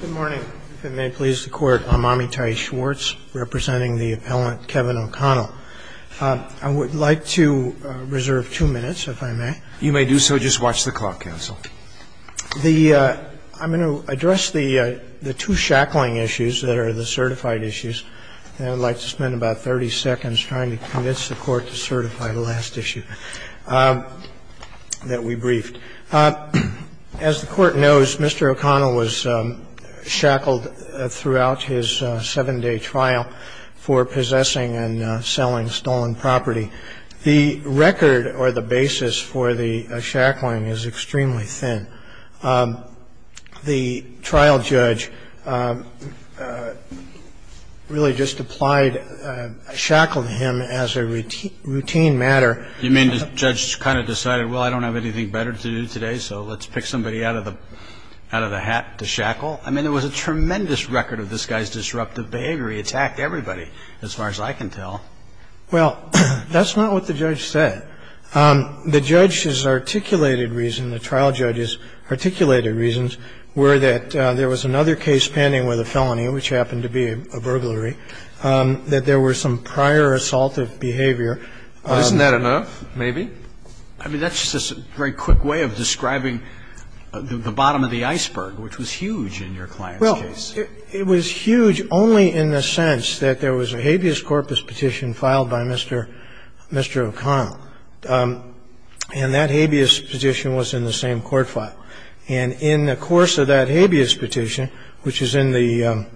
Good morning, if it may please the Court. I'm Amitai Schwartz representing the appellant Kevin O'Connell. I would like to reserve two minutes, if I may. You may do so. Just watch the clock, counsel. The – I'm going to address the two shackling issues that are the certified issues, and I'd like to spend about 30 seconds trying to convince the Court to certify the last issue that we briefed. As the Court knows, Mr. O'Connell was shackled throughout his 7-day trial for possessing and selling stolen property. The record or the basis for the shackling is extremely thin. The trial judge really just applied – shackled him as a routine matter. I mean, the judge kind of decided, well, I don't have anything better to do today, so let's pick somebody out of the – out of the hat to shackle. I mean, there was a tremendous record of this guy's disruptive behavior. He attacked everybody, as far as I can tell. Well, that's not what the judge said. The judge's articulated reason, the trial judge's articulated reasons were that there was another case pending with a felony, which happened to be a burglary, that there were some prior assaultive behavior. Isn't that enough, maybe? I mean, that's just a very quick way of describing the bottom of the iceberg, which was huge in your client's case. Well, it was huge only in the sense that there was a habeas corpus petition filed by Mr. O'Connell, and that habeas petition was in the same court file. And in the course of that habeas petition, which is in the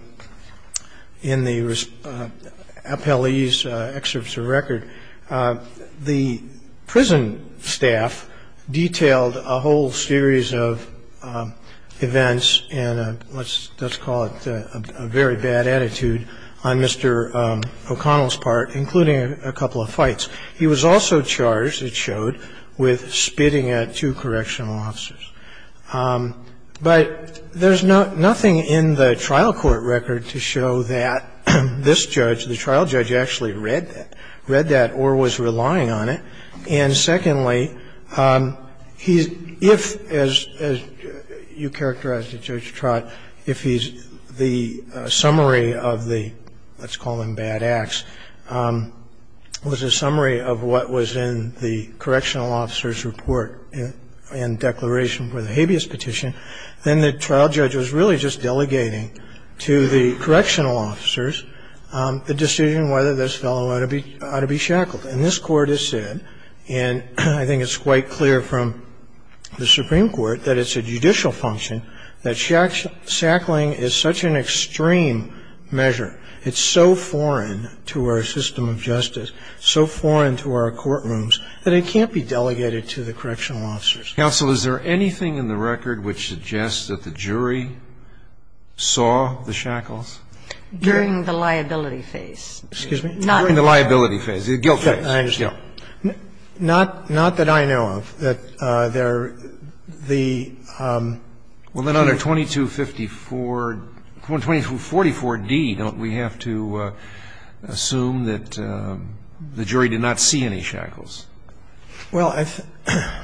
appellee's excerpts of the record, the prison staff detailed a whole series of events and a – let's call it a very bad attitude on Mr. O'Connell's part, including a couple of fights. He was also charged, it showed, with spitting at two correctional officers. But there's nothing in the trial court record to show that this judge, the trial judge, actually read that or was relying on it. And secondly, he's – if, as you characterized it, Judge Trott, if he's – the summary of the – let's call them bad acts – was a summary of what was in the correctional officer's report and declaration for the habeas petition, then the trial judge was really just delegating to the correctional officers the decision whether this fellow ought to be shackled. And this Court has said, and I think it's quite clear from the Supreme Court, that it's a judicial function, that shackling is such an extreme measure, it's so foreign to our system of justice, so foreign to our courtrooms, that it can't be delegated to the correctional officers. Roberts, counsel, is there anything in the record which suggests that the jury saw the shackles? During the liability phase. Excuse me? During the liability phase, the guilt phase. I understand. Not that I know of. That there are the – Well, then under 2254 – 2244d, don't we have to assume that the jury did not see any shackles? Well,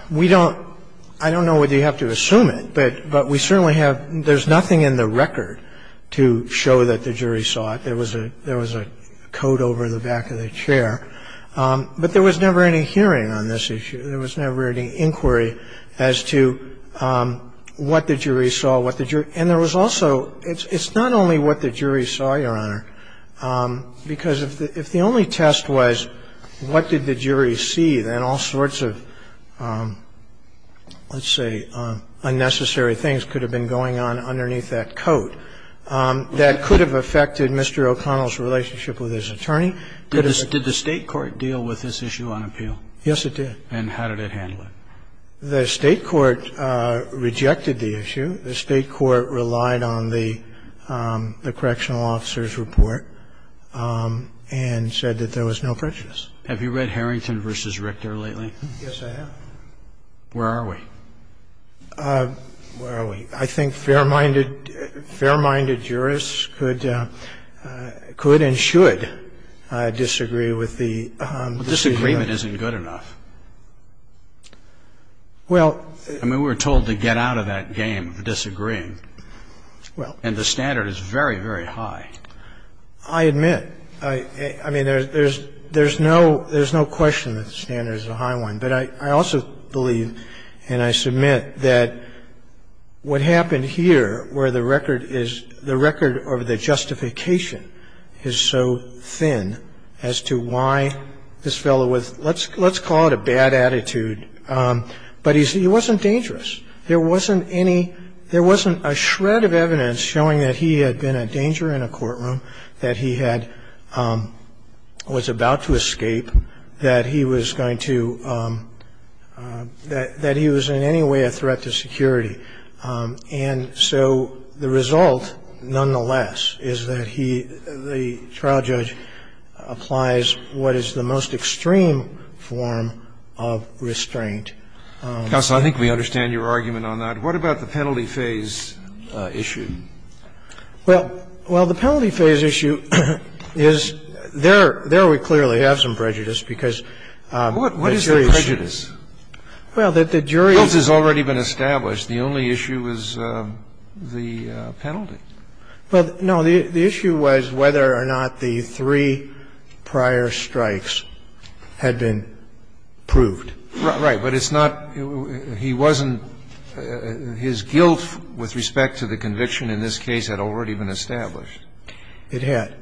we don't – I don't know whether you have to assume it, but we certainly have – there's nothing in the record to show that the jury saw it. There was a coat over the back of the chair. But there was never any hearing on this issue. There was never any inquiry as to what the jury saw, what the jury – and there was also – it's not only what the jury saw, Your Honor, because if the only test was what did the jury see, then all sorts of, let's say, unnecessary things could have been going on underneath that coat. That could have affected Mr. O'Connell's relationship with his attorney. Did the State court deal with this issue on appeal? Yes, it did. And how did it handle it? The State court rejected the issue. The State court relied on the correctional officer's report and said that there was no prejudice. Have you read Harrington v. Richter lately? Yes, I have. Where are we? Where are we? I think fair-minded jurists could and should disagree with the jury. But disagreement isn't good enough. Well – I mean, we were told to get out of that game of disagreeing. Well – And the standard is very, very high. I admit. I mean, there's no question that the standard is a high one. But I also believe, and I submit, that what happened here where the record is – the record of the justification is so thin as to why this fellow was – let's call it a bad attitude, but he wasn't dangerous. There wasn't any – there wasn't a shred of evidence showing that he had been a danger in a courtroom, that he had – was about to escape, that he was going to – that he was in any way a threat to security. And so the result, nonetheless, is that he – the trial judge applies what is the most extreme form of restraint. Counsel, I think we understand your argument on that. What about the penalty phase issue? Well, the penalty phase issue is – there we clearly have some prejudice, because the jury's – What is the prejudice? Well, the jury's – Guilt has already been established. The only issue is the penalty. Well, no. The issue was whether or not the three prior strikes had been proved. Right. But it's not – he wasn't – his guilt with respect to the conviction in this case had already been established. It had.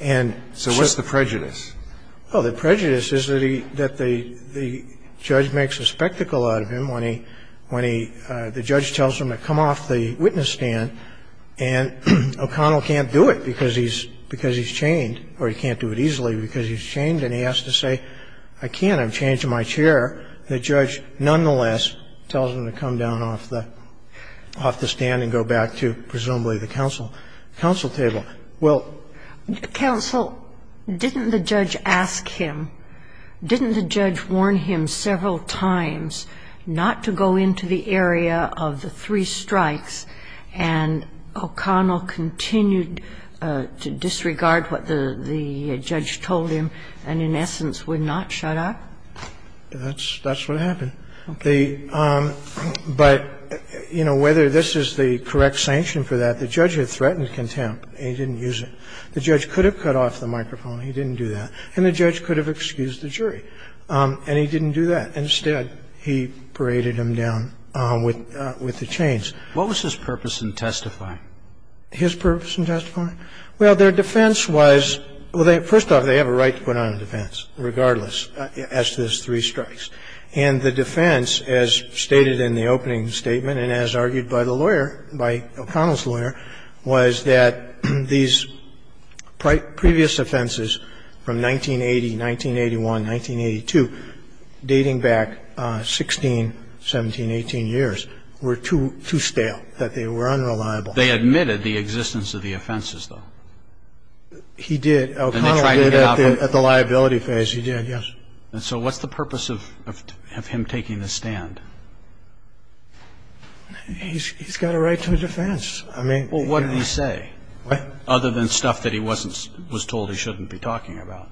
And so what's the prejudice? Well, the prejudice is that he – that the judge makes a spectacle out of him when he – when he – the judge tells him to come off the witness stand, and O'Connell can't do it because he's – because he's chained, or he can't do it easily because he's chained, and he has to say, I can't, I've changed my chair. The judge, nonetheless, tells him to come down off the – off the stand and go back to, presumably, the counsel – the counsel table. Well, counsel, didn't the judge ask him, didn't the judge warn him several times not to go into the area of the three strikes, and O'Connell continued to disregard what the judge told him and, in essence, would not shut up? That's – that's what happened. The – but, you know, whether this is the correct sanction for that, the judge had threatened contempt, and he didn't use it. The judge could have cut off the microphone, he didn't do that, and the judge could have excused the jury, and he didn't do that. Instead, he paraded him down with the chains. What was his purpose in testifying? His purpose in testifying? Well, their defense was – well, first off, they have a right to put on a defense, regardless, as to those three strikes. And the defense, as stated in the opening statement and as argued by the lawyer, by O'Connell's lawyer, was that these previous offenses from 1980, 1981, 1982, dating back 16, 17, 18 years, were too – too stale, that they were unreliable. They admitted the existence of the offenses, though. He did. O'Connell did at the liability phase. He did, yes. And so what's the purpose of – of him taking the stand? He's got a right to a defense. I mean – Well, what did he say, other than stuff that he wasn't – was told he shouldn't be talking about?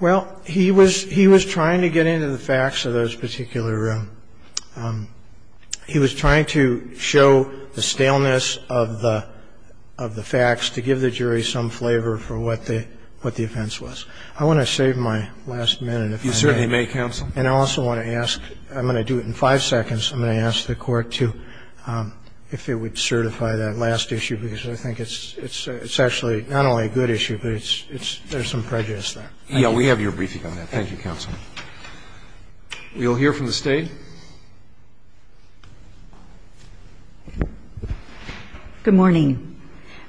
Well, he was – he was trying to get into the facts of those particular – he was trying to show the staleness of the – of the facts to give the jury some flavor for what the – what the offense was. I want to save my last minute, if I may. You certainly may, counsel. And I also want to ask – I'm going to do it in five seconds. I'm going to ask the Court to – if it would certify that last issue, because I think it's – it's actually not only a good issue, but it's – it's – there's some prejudice there. Yeah, we have your briefing on that. Thank you, counsel. We'll hear from the State. Good morning.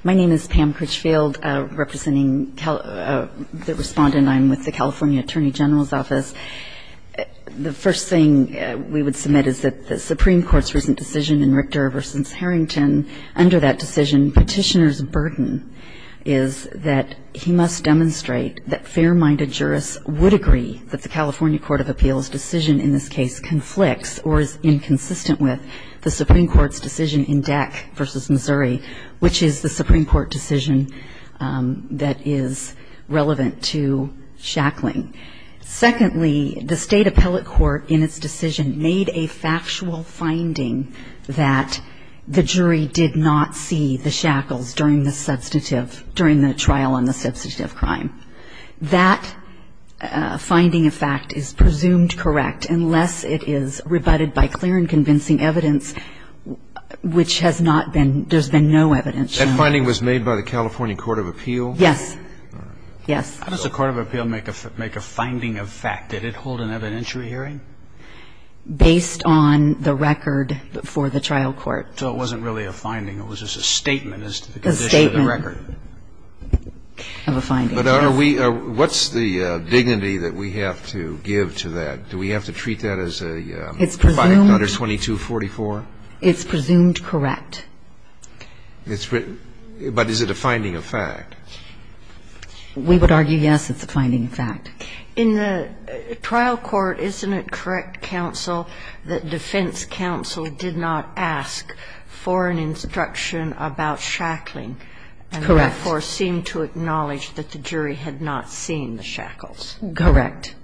My name is Pam Critchfield, representing – the respondent. I'm with the California Attorney General's Office. The first thing we would submit is that the Supreme Court's recent decision in Richter v. Harrington, under that decision, Petitioner's burden is that he must demonstrate that fair-minded jurists would agree that the California Court of Appeals' decision inconsistent with the Supreme Court's decision in Deck v. Missouri, which is the Supreme Court decision that is relevant to shackling. Secondly, the State Appellate Court, in its decision, made a factual finding that the jury did not see the shackles during the trial on the substantive crime. That finding of fact is presumed correct unless it is rebutted by clear and convincing evidence, which has not been – there's been no evidence. That finding was made by the California Court of Appeals? Yes. All right. Yes. How does the Court of Appeals make a finding of fact? Did it hold an evidentiary hearing? Based on the record for the trial court. So it wasn't really a finding. It was just a statement as to the condition of the record. A statement of a finding, yes. But are we – what's the dignity that we have to give to that? Do we have to treat that as a 52244? It's presumed correct. But is it a finding of fact? We would argue, yes, it's a finding of fact. In the trial court, isn't it correct, counsel, that defense counsel did not ask for an instruction about shackling? Correct. And therefore seemed to acknowledge that the jury had not seen the shackles. Correct.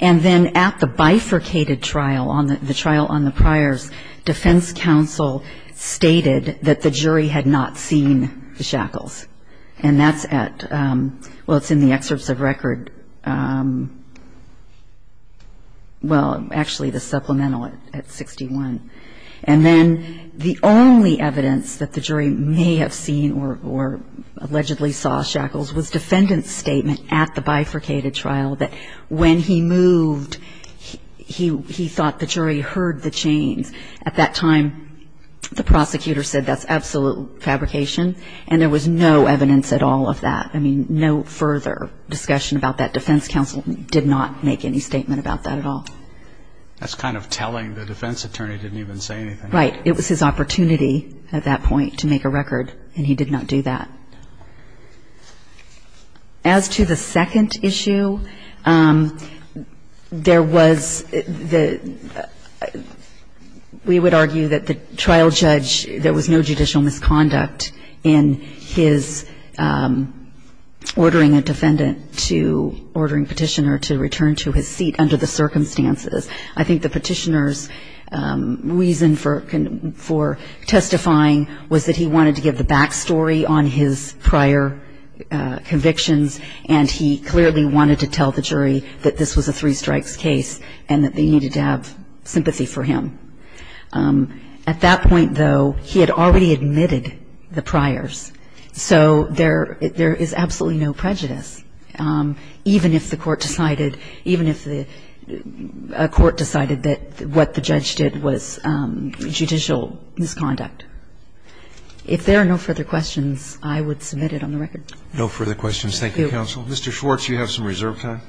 And then at the bifurcated trial, the trial on the priors, defense counsel stated that the jury had not seen the shackles. And that's at – well, it's in the excerpts of record – well, actually, the supplemental at 61. And then the only evidence that the jury may have seen or allegedly saw shackles was defendant's statement at the bifurcated trial that when he moved, he thought the jury heard the chains. At that time, the prosecutor said that's absolute fabrication, and there was no evidence at all of that. I mean, no further discussion about that. Defense counsel did not make any statement about that at all. That's kind of telling. The defense attorney didn't even say anything. Right. It was his opportunity at that point to make a record, and he did not do that. We would argue that the trial judge, there was no judicial misconduct in his ordering a defendant to – ordering Petitioner to return to his seat under the circumstances. I think the Petitioner's reason for testifying was that he wanted to give the backstory on his prior convictions, and he clearly wanted to tell the jury that this was a three year trial. At that point, though, he had already admitted the priors. So there is absolutely no prejudice, even if the court decided – even if the court decided that what the judge did was judicial misconduct. If there are no further questions, I would submit it on the record. No further questions. Thank you, counsel. Thank you. Mr. Schwartz, you have some reserve time.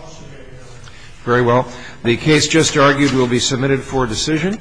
I'll submit it, Your Honor. Very well. The case just argued will be submitted for decision.